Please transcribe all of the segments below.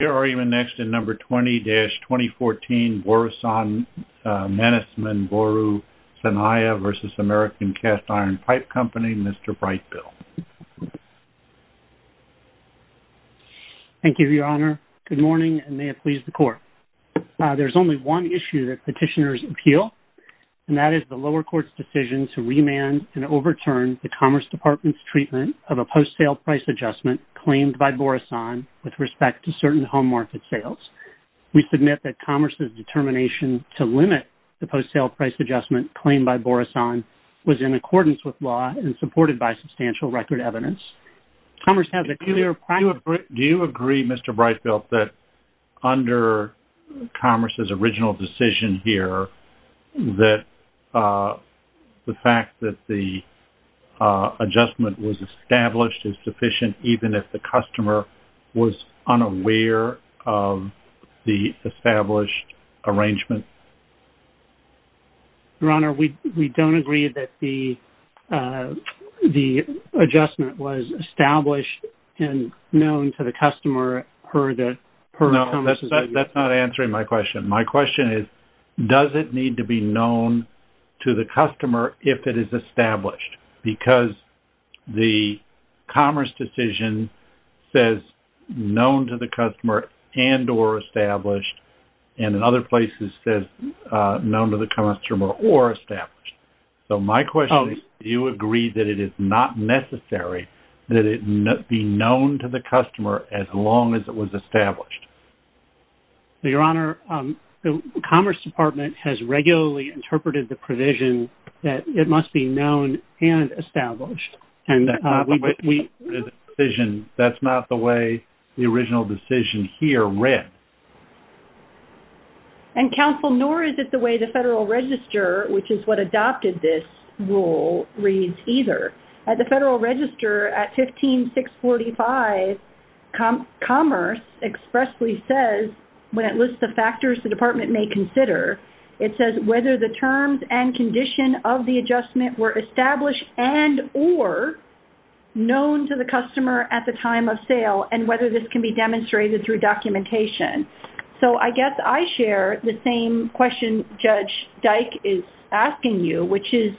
Your argument next in number 20-2014 Borusan Mannesmann Boru Sanayi v. American Cast Iron Pipe Co., Mr. Brightbill. Thank you, Your Honor. Good morning and may it please the Court. There's only one issue that petitioners appeal, and that is the lower court's decision to remand and overturn the Commerce Department's treatment of a post-sale price adjustment claimed by Borusan with respect to certain home market sales. We submit that Commerce's determination to limit the post-sale price adjustment claimed by Borusan was in accordance with law and supported by substantial record evidence. Do you agree, Mr. Brightbill, that under Commerce's original decision here that the fact that the adjustment was established is sufficient even if the customer was unaware of the established arrangement? Your Honor, we don't agree that the adjustment was established and known to the customer per Commerce's original decision. No, that's not answering my question. My question is, does it need to be known to the customer if it is established? Because the Commerce decision says known to the customer and or established, and in other places says known to the customer or established. So my question is, do you agree that it is not necessary that it be known to the customer as long as it was established? Your Honor, the Commerce Department has regularly interpreted the provision that it must be known and established. That's not the way the original decision here read. And counsel, nor is it the way the Federal Register, which is what adopted this rule, reads either. At the Federal Register, at 15645, Commerce expressly says, when it lists the factors the department may consider, it says whether the terms and condition of the adjustment were established and or known to the customer at the time of sale and whether this can be demonstrated through documentation. So I guess I share the same question Judge Dyke is asking you, which is,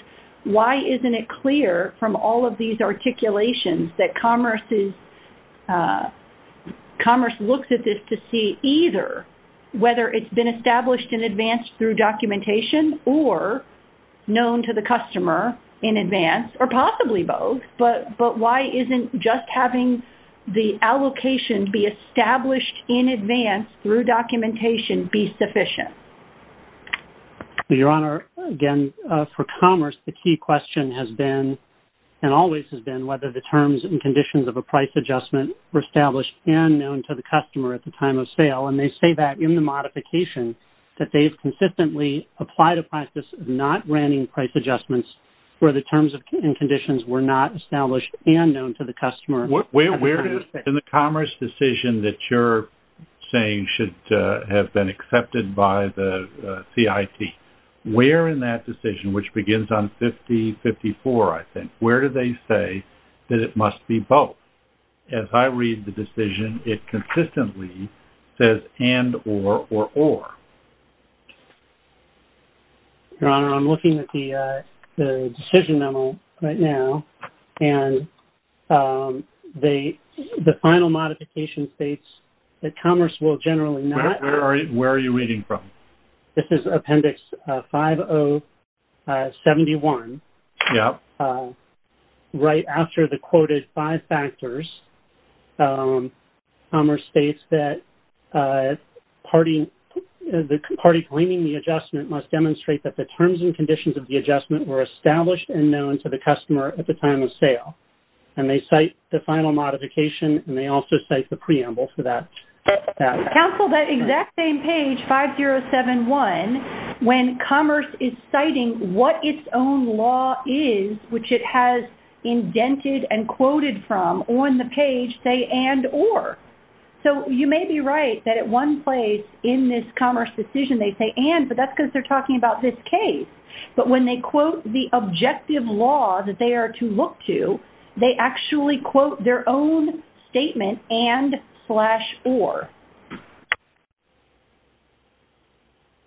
why isn't it clear from all of these articulations that Commerce looks at this to see either whether it's been established in advance through documentation or known to the customer in advance, or possibly both. But why isn't just having the allocation be established in advance through documentation be sufficient? Your Honor, again, for Commerce, the key question has been, and always has been, whether the terms and conditions of a price adjustment were established and known to the customer at the time of sale. And they say that in the modification, that they've consistently applied a process of not granting price adjustments where the terms and conditions were not established and known to the customer. In the Commerce decision that you're saying should have been accepted by the CIT, where in that decision, which begins on 5054, I think, where do they say that it must be both? As I read the decision, it consistently says and, or, or, or. Your Honor, I'm looking at the decision memo right now, and the final modification states that Commerce will generally not. Where are you reading from? This is Appendix 5071. Yep. Right after the quoted five factors, Commerce states that the party claiming the adjustment must demonstrate that the terms and conditions of the adjustment were established and known to the customer at the time of sale. And they cite the final modification, and they also cite the preamble for that. Counsel, that exact same page, 5071, when Commerce is citing what its own law is, which it has indented and quoted from, on the page, say and, or. So, you may be right that at one place in this Commerce decision, they say and, but that's because they're talking about this case. But when they quote the objective law that they are to look to, they actually quote their own statement and slash or.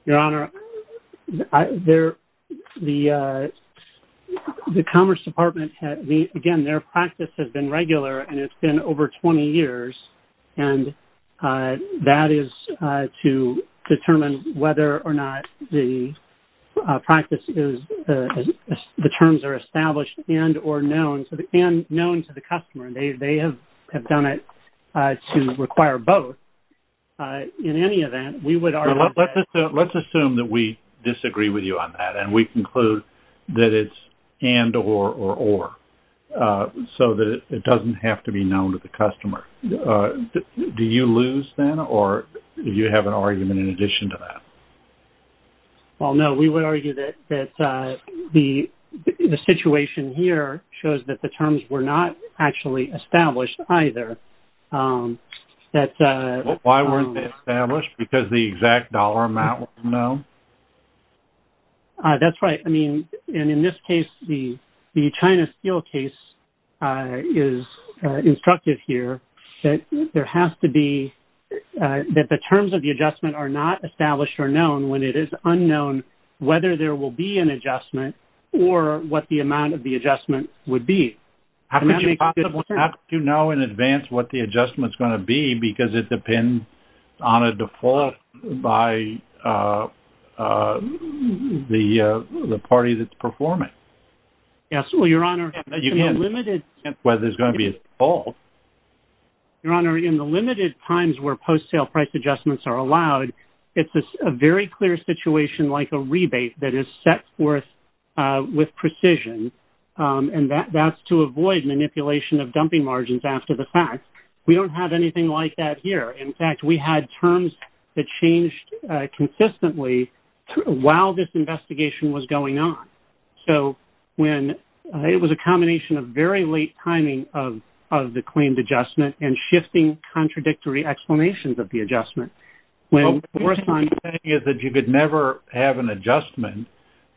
Your Honor, the Commerce Department, again, their practice has been regular, and it's been over 20 years. And that is to determine whether or not the practice is the terms are established and or known to the customer. And they have done it to require both. In any event, we would argue that. Let's assume that we disagree with you on that, and we conclude that it's and, or, or, or, so that it doesn't have to be known to the customer. Do you lose, then, or do you have an argument in addition to that? Well, no, we would argue that the situation here shows that the terms were not actually established either. Why weren't they established? Because the exact dollar amount was known? That's right. I mean, and in this case, the China Steel case is instructive here. There has to be, that the terms of the adjustment are not established or known when it is unknown whether there will be an adjustment or what the amount of the adjustment would be. How could you possibly know in advance what the adjustment's going to be because it depends on a default by the party that's performing? Yes, well, Your Honor, in the limited times where post-sale price adjustments are allowed, it's a very clear situation like a rebate that is set forth with precision. And that's to avoid manipulation of dumping margins after the fact. We don't have anything like that here. In fact, we had terms that changed consistently while this investigation was going on. So when it was a combination of very late timing of the claimed adjustment and shifting contradictory explanations of the adjustment. What you're saying is that you could never have an adjustment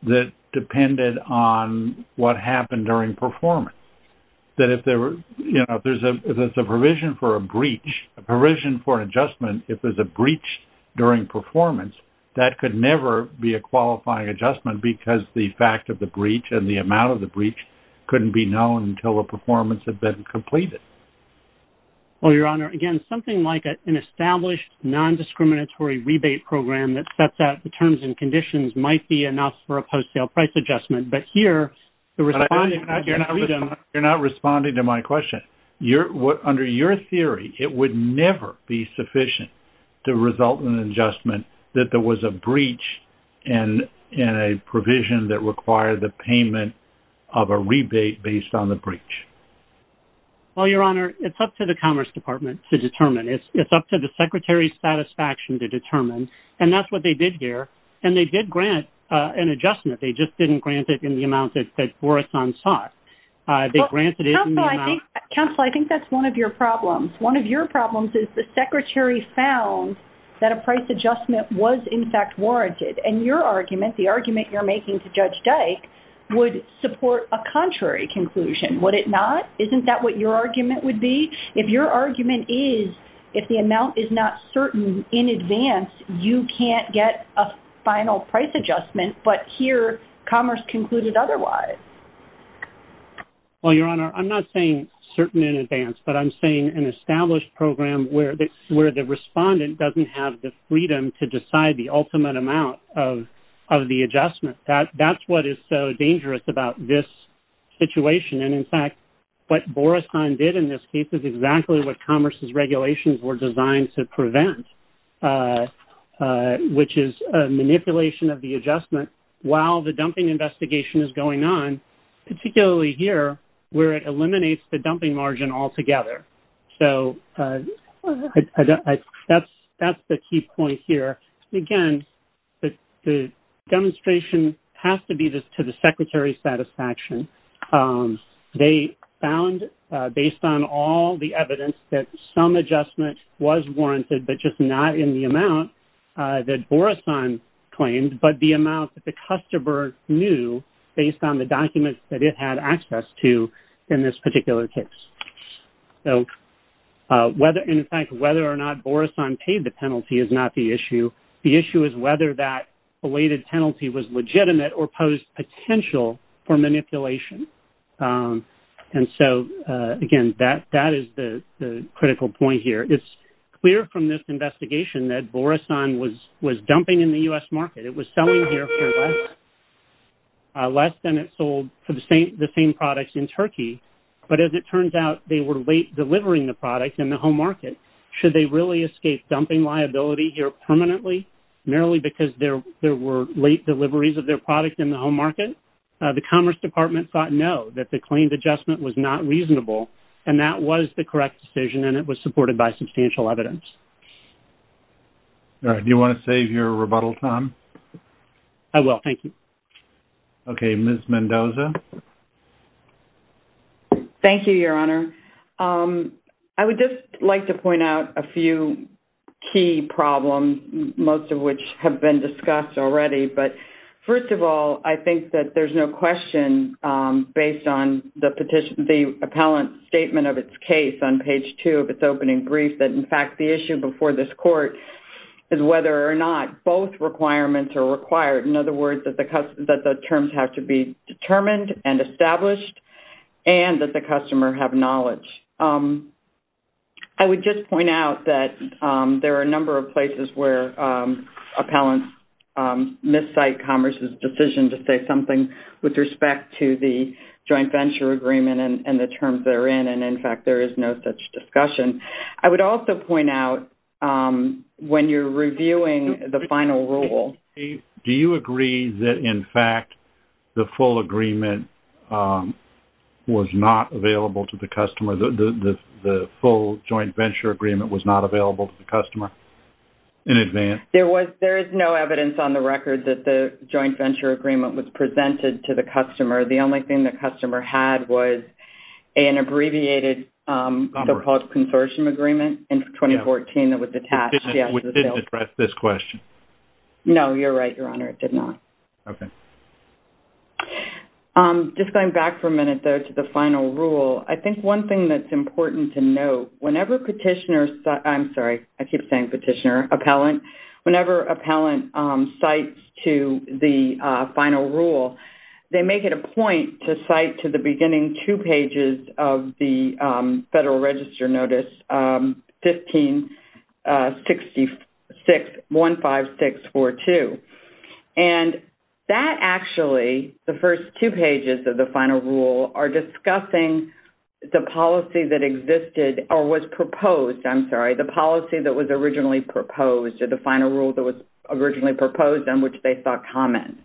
that depended on what happened during performance. That if there were, you know, if there's a provision for a breach, a provision for an adjustment, if there's a breach during performance, that could never be a qualifying adjustment because the fact of the breach and the amount of the breach couldn't be known until the performance had been completed. Well, Your Honor, again, something like an established non-discriminatory rebate program that sets out the terms and conditions might be enough for a post-sale price adjustment. You're not responding to my question. Under your theory, it would never be sufficient to result in an adjustment that there was a breach and a provision that required the payment of a rebate based on the breach. Well, Your Honor, it's up to the Commerce Department to determine. It's up to the Secretary's satisfaction to determine. And that's what they did here. And they did grant an adjustment. They just didn't grant it in the amount that Borison sought. They granted it in the amount... Counsel, I think that's one of your problems. One of your problems is the Secretary found that a price adjustment was in fact warranted. And your argument, the argument you're making to Judge Dyke, would support a contrary conclusion. Would it not? Isn't that what your argument would be? If your argument is if the amount is not certain in advance, you can't get a final price adjustment. But here, Commerce concluded otherwise. Well, Your Honor, I'm not saying certain in advance, but I'm saying an established program where the respondent doesn't have the freedom to decide the ultimate amount of the adjustment. That's what is so dangerous about this situation. What Borison did in this case is exactly what Commerce's regulations were designed to prevent, which is a manipulation of the adjustment while the dumping investigation is going on, particularly here where it eliminates the dumping margin altogether. So that's the key point here. Again, the demonstration has to be to the Secretary's satisfaction. They found, based on all the evidence, that some adjustment was warranted, but just not in the amount that Borison claimed, but the amount that the customer knew based on the documents that it had access to in this particular case. So whether, in fact, whether or not Borison paid the penalty is not the issue. The issue is whether that belated penalty was legitimate or posed potential for manipulation. And so, again, that is the critical point here. It's clear from this investigation that Borison was dumping in the U.S. market. It was selling here for less than it sold for the same products in Turkey. But as it turns out, they were late delivering the products in the home market. Should they really escape dumping liability here permanently, merely because there were late deliveries of their product in the home market? The Commerce Department thought no, that the claimed adjustment was not reasonable. And that was the correct decision, and it was supported by substantial evidence. All right. Do you want to save your rebuttal time? I will. Thank you. Okay. Ms. Mendoza? Thank you, Your Honor. I would just like to point out a few key problems, most of which have been discussed already. But first of all, I think that there's no question, based on the appellant's statement of its case on page 2 of its opening brief, that, in fact, the issue before this court is whether or not both requirements are required. In other words, that the terms have to be determined and established, and that the customer have knowledge. I would just point out that there are a number of places where appellants miscite Commerce's decision to say something with respect to the joint venture agreement and the terms they're in. And, in fact, there is no such discussion. I would also point out, when you're reviewing the final rule... Was not available to the customer. The full joint venture agreement was not available to the customer in advance? There is no evidence on the record that the joint venture agreement was presented to the customer. The only thing the customer had was an abbreviated so-called consortium agreement in 2014 that was attached. Which didn't address this question. No, you're right, Your Honor. It did not. Okay. Just going back for a minute, though, to the final rule. I think one thing that's important to note, whenever petitioners... I'm sorry, I keep saying petitioner, appellant. Whenever appellant cites to the final rule, they make it a point to cite to the beginning two pages of the Federal Register Notice 156615642. And that, actually, the first two pages of the final rule are discussing the policy that existed or was proposed. I'm sorry, the policy that was originally proposed or the final rule that was originally proposed on which they thought common.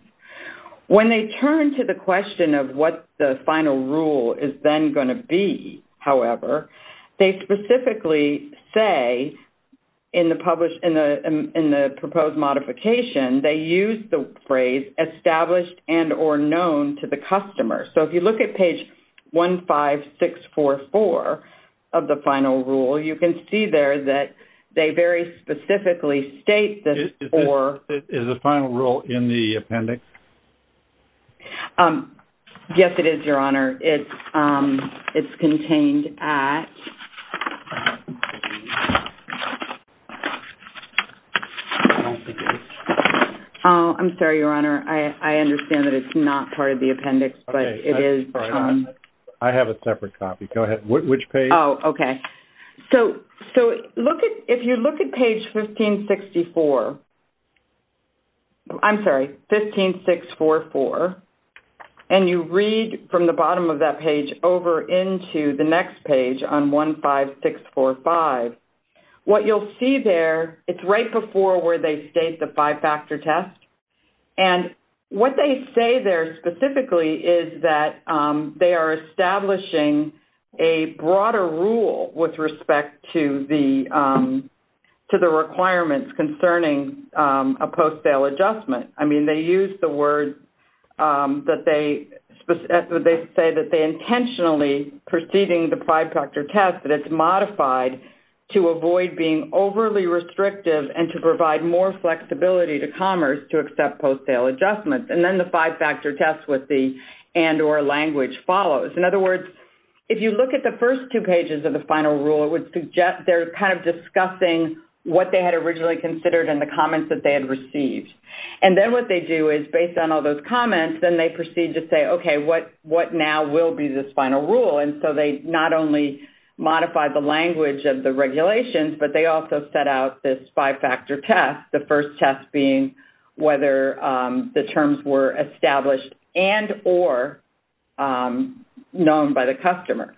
When they turn to the question of what the final rule is then going to be, however, they specifically say, in the proposed modification, they use the phrase established and or known to the customer. So if you look at page 15644 of the final rule, you can see there that they very specifically state this for... Is the final rule in the appendix? Yes, it is, Your Honor. It's contained at... I don't think it is. Oh, I'm sorry, Your Honor. I understand that it's not part of the appendix, but it is... I have a separate copy. Go ahead. Which page? Oh, okay. So if you look at page 1564... I'm sorry, 15644, and you read from the bottom of that page over into the next page on 15645, what you'll see there, it's right before where they state the five-factor test, and what they say there specifically is that they are establishing a broader rule with respect to the requirements concerning a post-sale adjustment. I mean, they use the word that they... intentionally preceding the five-factor test that it's modified to avoid being overly restrictive and to provide more flexibility to commerce to accept post-sale adjustments. And then the five-factor test with the and or language follows. In other words, if you look at the first two pages of the final rule, it would suggest they're kind of discussing what they had originally considered and the comments that they had received. And then what they do is, based on all those comments, then they proceed to say, okay, what now will be this final rule? And so they not only modify the language of the regulations, but they also set out this five-factor test, the first test being whether the terms were established and or known by the customer.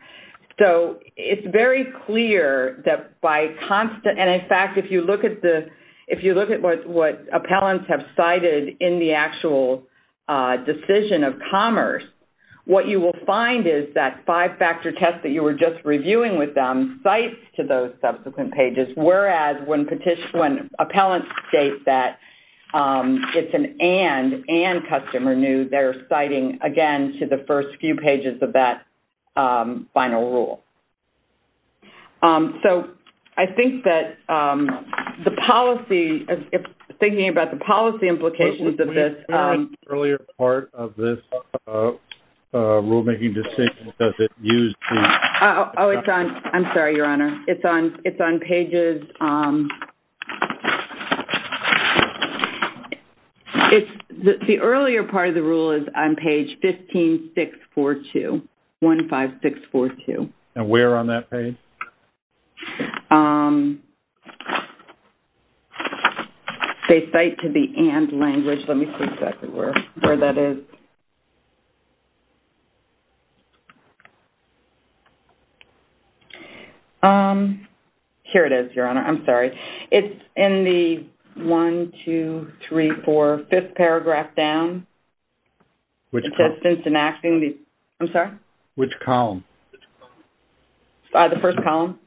So it's very clear that by constant... And in fact, if you look at the... if you look at what appellants have cited in the actual decision of commerce, what you will find is that five-factor test that you were just reviewing with them cites to those subsequent pages, whereas when appellants state that it's an and, and customer knew, they're citing, again, to the first few pages of that final rule. So I think that the policy... I'm sorry. Can you explain the earlier part of this rulemaking decision? Does it use the... Oh, I'm sorry, Your Honor. It's on pages... The earlier part of the rule is on page 15642. 15642. And where on that page? Okay. They cite to the and language. Let me see exactly where that is. Here it is, Your Honor. I'm sorry. It's in the one, two, three, four, fifth paragraph down. It says since enacting the... I'm sorry? Which column? The first column.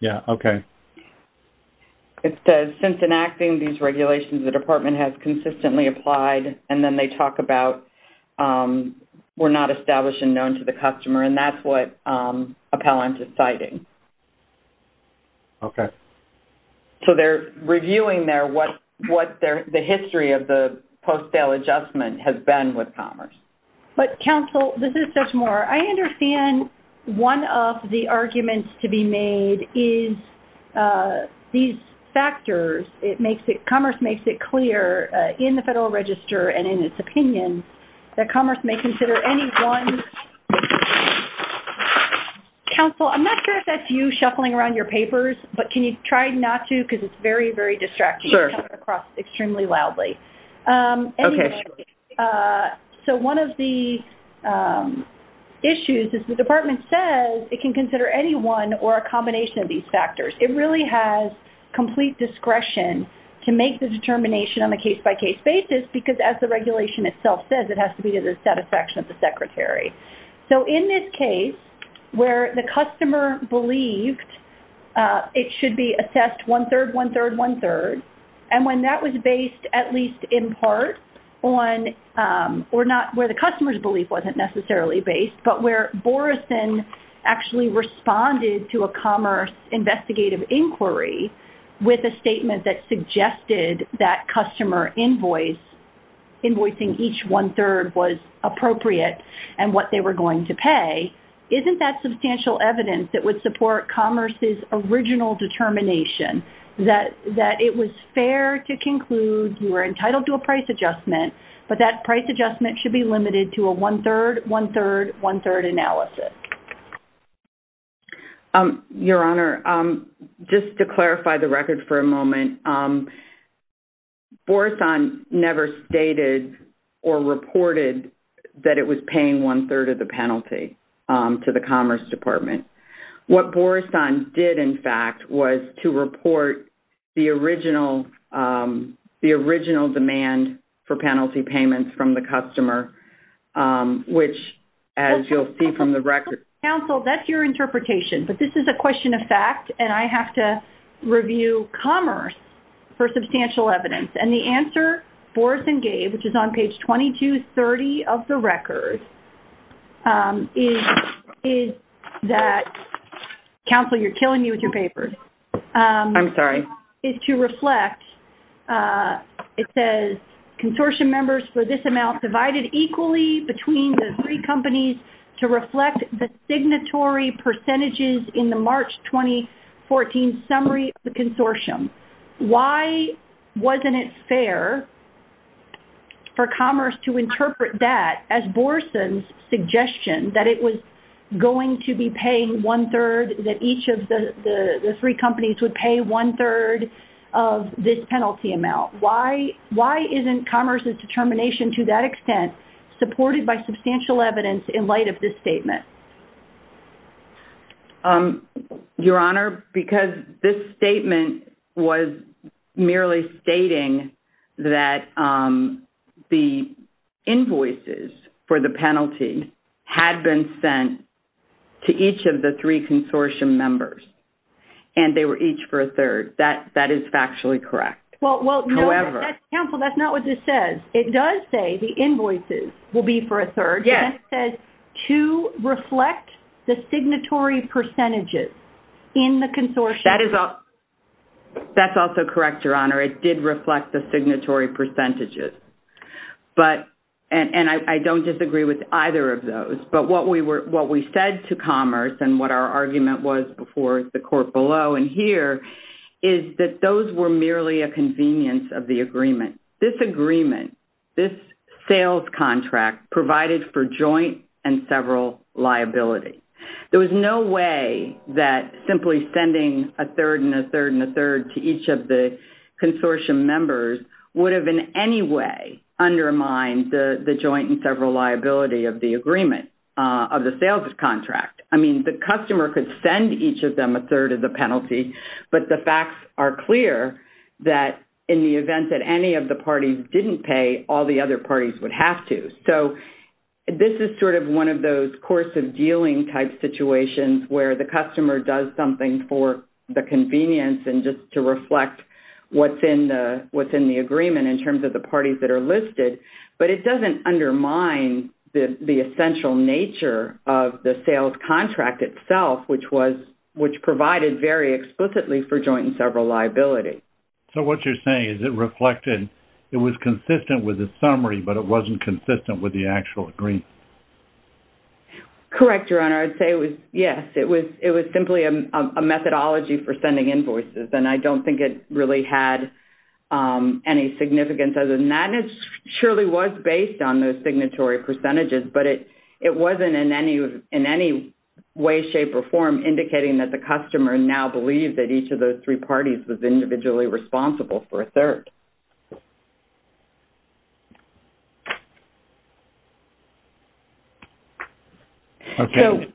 Yeah, okay. It says since enacting these regulations, the department has consistently applied, and then they talk about we're not establishing known to the customer, and that's what appellant is citing. Okay. So they're reviewing there what the history of the post-sale adjustment has been with Commerce. But, counsel, this is such more. I understand one of the arguments to be made is these factors. Commerce makes it clear in the Federal Register and in its opinion that Commerce may consider any one... Counsel, I'm not sure if that's you shuffling around your papers, but can you try not to because it's very, very distracting. It's coming across extremely loudly. Okay. So one of the issues is the department says it can consider any one or a combination of these factors. It really has complete discretion to make the determination on a case-by-case basis because, as the regulation itself says, it has to be to the satisfaction of the secretary. So in this case, where the customer believed it should be assessed one-third, one-third, one-third, and when that was based at least in part on, or not where the customer's belief wasn't necessarily based, but where Boreson actually responded to a Commerce investigative inquiry with a statement that suggested that customer invoice, invoicing each one-third was appropriate and what they were going to pay, isn't that substantial evidence that would support Commerce's original determination that it was fair to conclude you were entitled to a price adjustment, but that price adjustment should be limited to a one-third, one-third, one-third analysis? Your Honor, just to clarify the record for a moment, Boreson never stated or reported that it was paying one-third of the penalty to the Commerce Department. What Boreson did, in fact, was to report the original demand for penalty payments from the customer, which, as you'll see from the record... Counsel, that's your interpretation, but this is a question of fact, and I have to review Commerce for substantial evidence, and the answer Boreson gave, which is on page 2230 of the record, is that... Counsel, you're killing me with your papers. I'm sorry. ...is to reflect, it says, consortium members for this amount divided equally between the three companies to reflect the signatory percentages in the March 2014 summary of the consortium. Why wasn't it fair for Commerce to interpret that as Boreson's suggestion that it was going to be paying one-third that each of the three companies would pay one-third of this penalty amount? Why isn't Commerce's determination to that extent supported by substantial evidence in light of this statement? Your Honor, because this statement was merely stating that the invoices for the penalty had been sent to each of the three consortium members, and they were each for a third. That is factually correct. However... Counsel, that's not what this says. It does say the invoices will be for a third. Yes. It says to reflect the signatory percentages in the consortium... That's also correct, Your Honor. It did reflect the signatory percentages, and I don't disagree with either of those, but what we said to Commerce and what our argument was before the court below and here is that those were merely a convenience of the agreement. This agreement, this sales contract, provided for joint and several liability. There was no way that simply sending a third and a third and a third to each of the consortium members would have in any way undermined the joint and several liability of the agreement of the sales contract. I mean, the customer could send each of them a third of the penalty, but the facts are clear that in the event that any of the parties didn't pay, all the other parties would have to. So this is sort of one of those course of dealing type situations where the customer does something for the convenience and just to reflect what's in the agreement in terms of the parties that are listed, but it doesn't undermine the essential nature of the sales contract itself, which provided very explicitly for joint and several liability. So what you're saying is it reflected, it was consistent with the summary, but it wasn't consistent with the actual agreement. Correct, Your Honor. I'd say it was, yes, it was simply a methodology for sending invoices, and I don't think it really had any significance other than that. And it surely was based on those signatory percentages, but it wasn't in any way, shape, or form indicating that the customer now believed that each of those three parties was individually responsible for a third. Okay.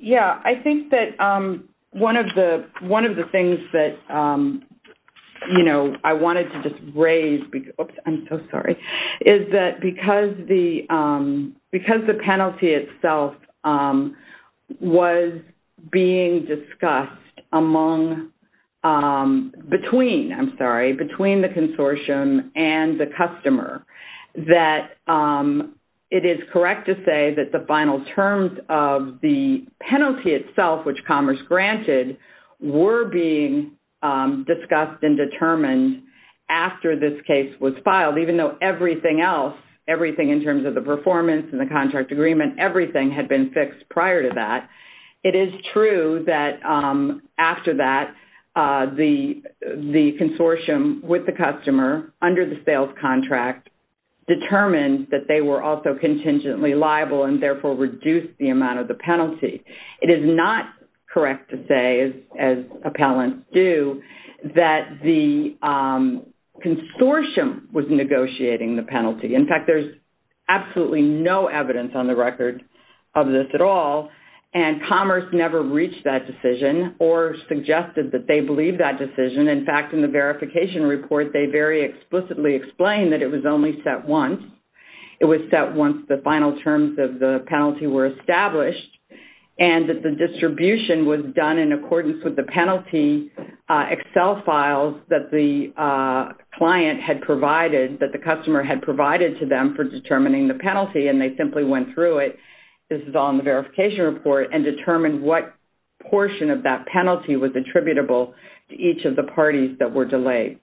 Yeah, I think that one of the things that, you know, I wanted to just raise, oops, I'm so sorry, is that because the penalty itself was being discussed among, between, I'm sorry, between the consortium and the customer that it is correct to say that the final terms of the penalty itself, which Commerce granted, were being discussed and determined after this case was filed, even though everything else, everything in terms of the performance and the contract agreement, everything had been fixed prior to that. It is true that after that, the consortium with the customer under the sales contract determined that they were also contingently liable and therefore reduced the amount of the penalty. It is not correct to say as appellants do that the consortium was negotiating the penalty. In fact, there's absolutely no evidence on the record of this at all and Commerce never reached that decision or suggested that they believe that decision. In fact, in the verification report, they very explicitly explained that it was only set once. It was set once the final terms of the penalty were established and that the distribution was done in accordance with the penalty Excel files that the client had provided, that the customer had provided to them for determining the penalty and they simply went through it. This is all in the verification report and determined what portion of that penalty was attributable to each of the parties that were delayed.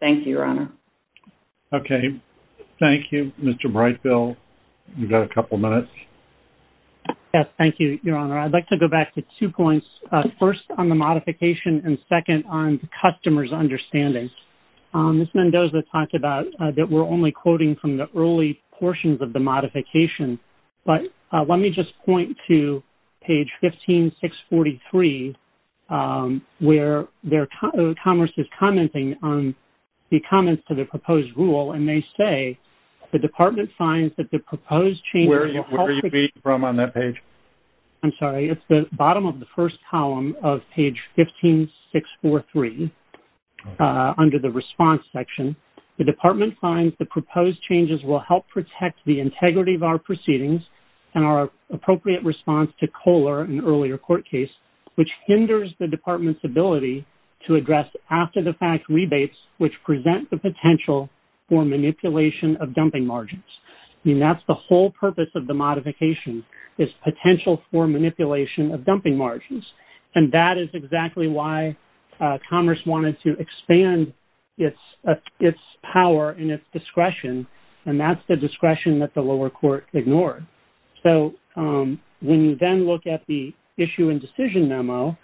Thank you, Your Honor. Okay. Thank you, Mr. Brightfield. You've got a couple minutes. Yes, thank you, Your Honor. I'd like to go back to two points. First, on the modification and second, on the customer's understanding. Ms. Mendoza talked about that we're only quoting from the early portions of the modification, but let me just point to page 15643 where Commerce is commenting on the comments to the proposed rule and they say, the department finds that the proposed changes will help protect... Where are you reading from on that page? I'm sorry. It's the bottom of the first column of page 15643 under the response section. The department finds the proposed changes will help protect the integrity of our proceedings and our appropriate response to Kohler, an earlier court case, which hinders the department's ability to address after-the-fact rebates which present the potential for manipulation of dumping margins. The purpose of the modification is potential for manipulation of dumping margins and that is exactly why Commerce wanted to expand its power and its discretion and that's the discretion that the lower court ignored. So, when you then look at the issue and decision memo,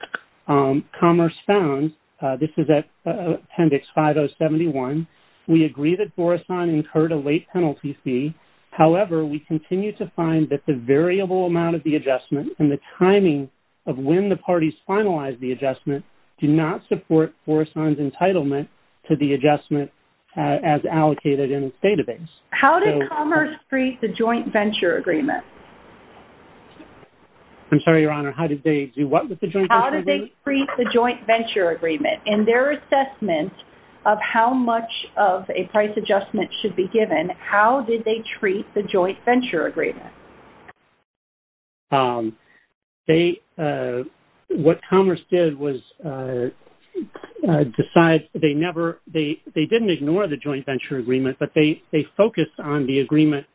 Commerce found, this is at appendix 5071, we agree that Borisohn incurred a late penalty fee. We also find that the variable amount of the adjustment and the timing of when the parties finalized the adjustment do not support Borisohn's entitlement to the adjustment as allocated in its database. How did Commerce treat the joint venture agreement? I'm sorry, Your Honor. How did they do what with the joint venture agreement? How did they treat the joint venture agreement? In their assessment of how much of a price adjustment should be given, they, what Commerce did was decide, they never, they didn't ignore the joint venture agreement but they focused on the agreement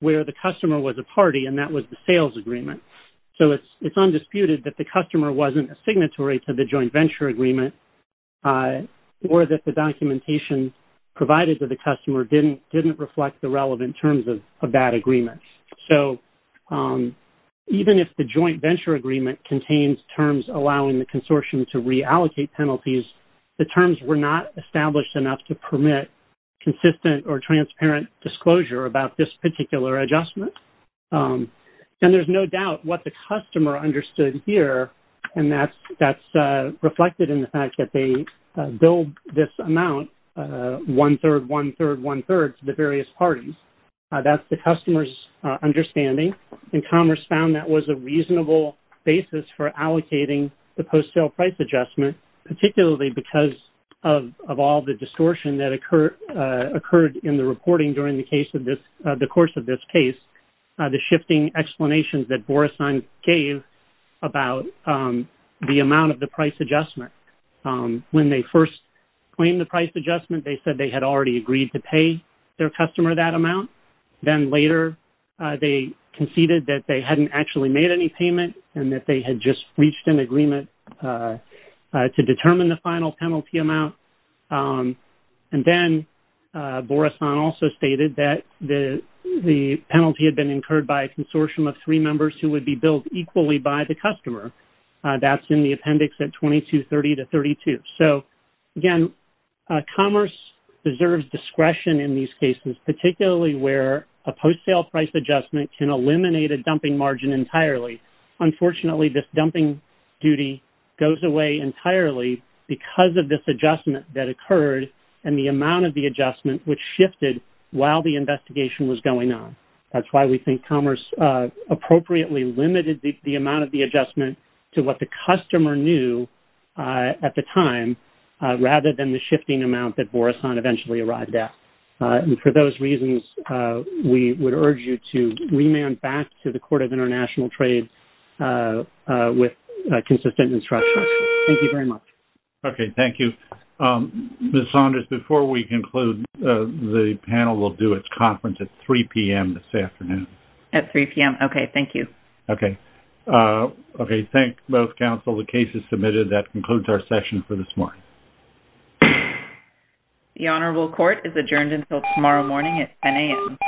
where the customer was a party and that was the sales agreement. So, it's undisputed that the customer wasn't a signatory to the joint venture agreement or that the documentation provided to the customer didn't reflect the relevant terms of that agreement. So, even if the joint venture agreement contains terms allowing the consortium to reallocate penalties, the terms were not established enough to permit consistent or transparent disclosure about this particular adjustment. And there's no doubt what the customer understood here in the fact that they billed this amount one-third, one-third, one-third and that's the customer's understanding and Commerce found that was a reasonable basis for allocating the post-sale price adjustment particularly because of all the distortion that occurred in the reporting during the case of this, the course of this case, the shifting explanations that Boris gave about the amount of the price adjustment. When they first claimed the price adjustment, they said they had already agreed to pay their customer that amount. Then later, they conceded that they hadn't actually made any payment and that they had just reached an agreement to determine the final penalty amount. And then, Boris also stated that the penalty had been incurred by a consortium of three members who would be billed equally by the customer. That's in the appendix at 2230 to 32. So, again, Commerce deserves discretion in these cases particularly where a post-sale price adjustment can eliminate a dumping margin entirely. Unfortunately, this dumping duty goes away entirely because of this adjustment that occurred and the amount of the adjustment which shifted while the investigation was going on. That's why we think Commerce appropriately limited the amount of the adjustment to what the customer knew at the time rather than the shifting amount that Boris Han eventually arrived at. And for those reasons, we would urge you to remand back to the Court of International Trade with consistent instruction. Thank you very much. Okay. Thank you. Ms. Saunders, before we conclude, the panel will do its conference at 3 p.m. this afternoon. At 3 p.m.? Okay. Thank you. Okay. Okay. Thank both counsel. The case is submitted. That concludes our session for this morning. The Honorable Court is adjourned until tomorrow morning at 10 a.m.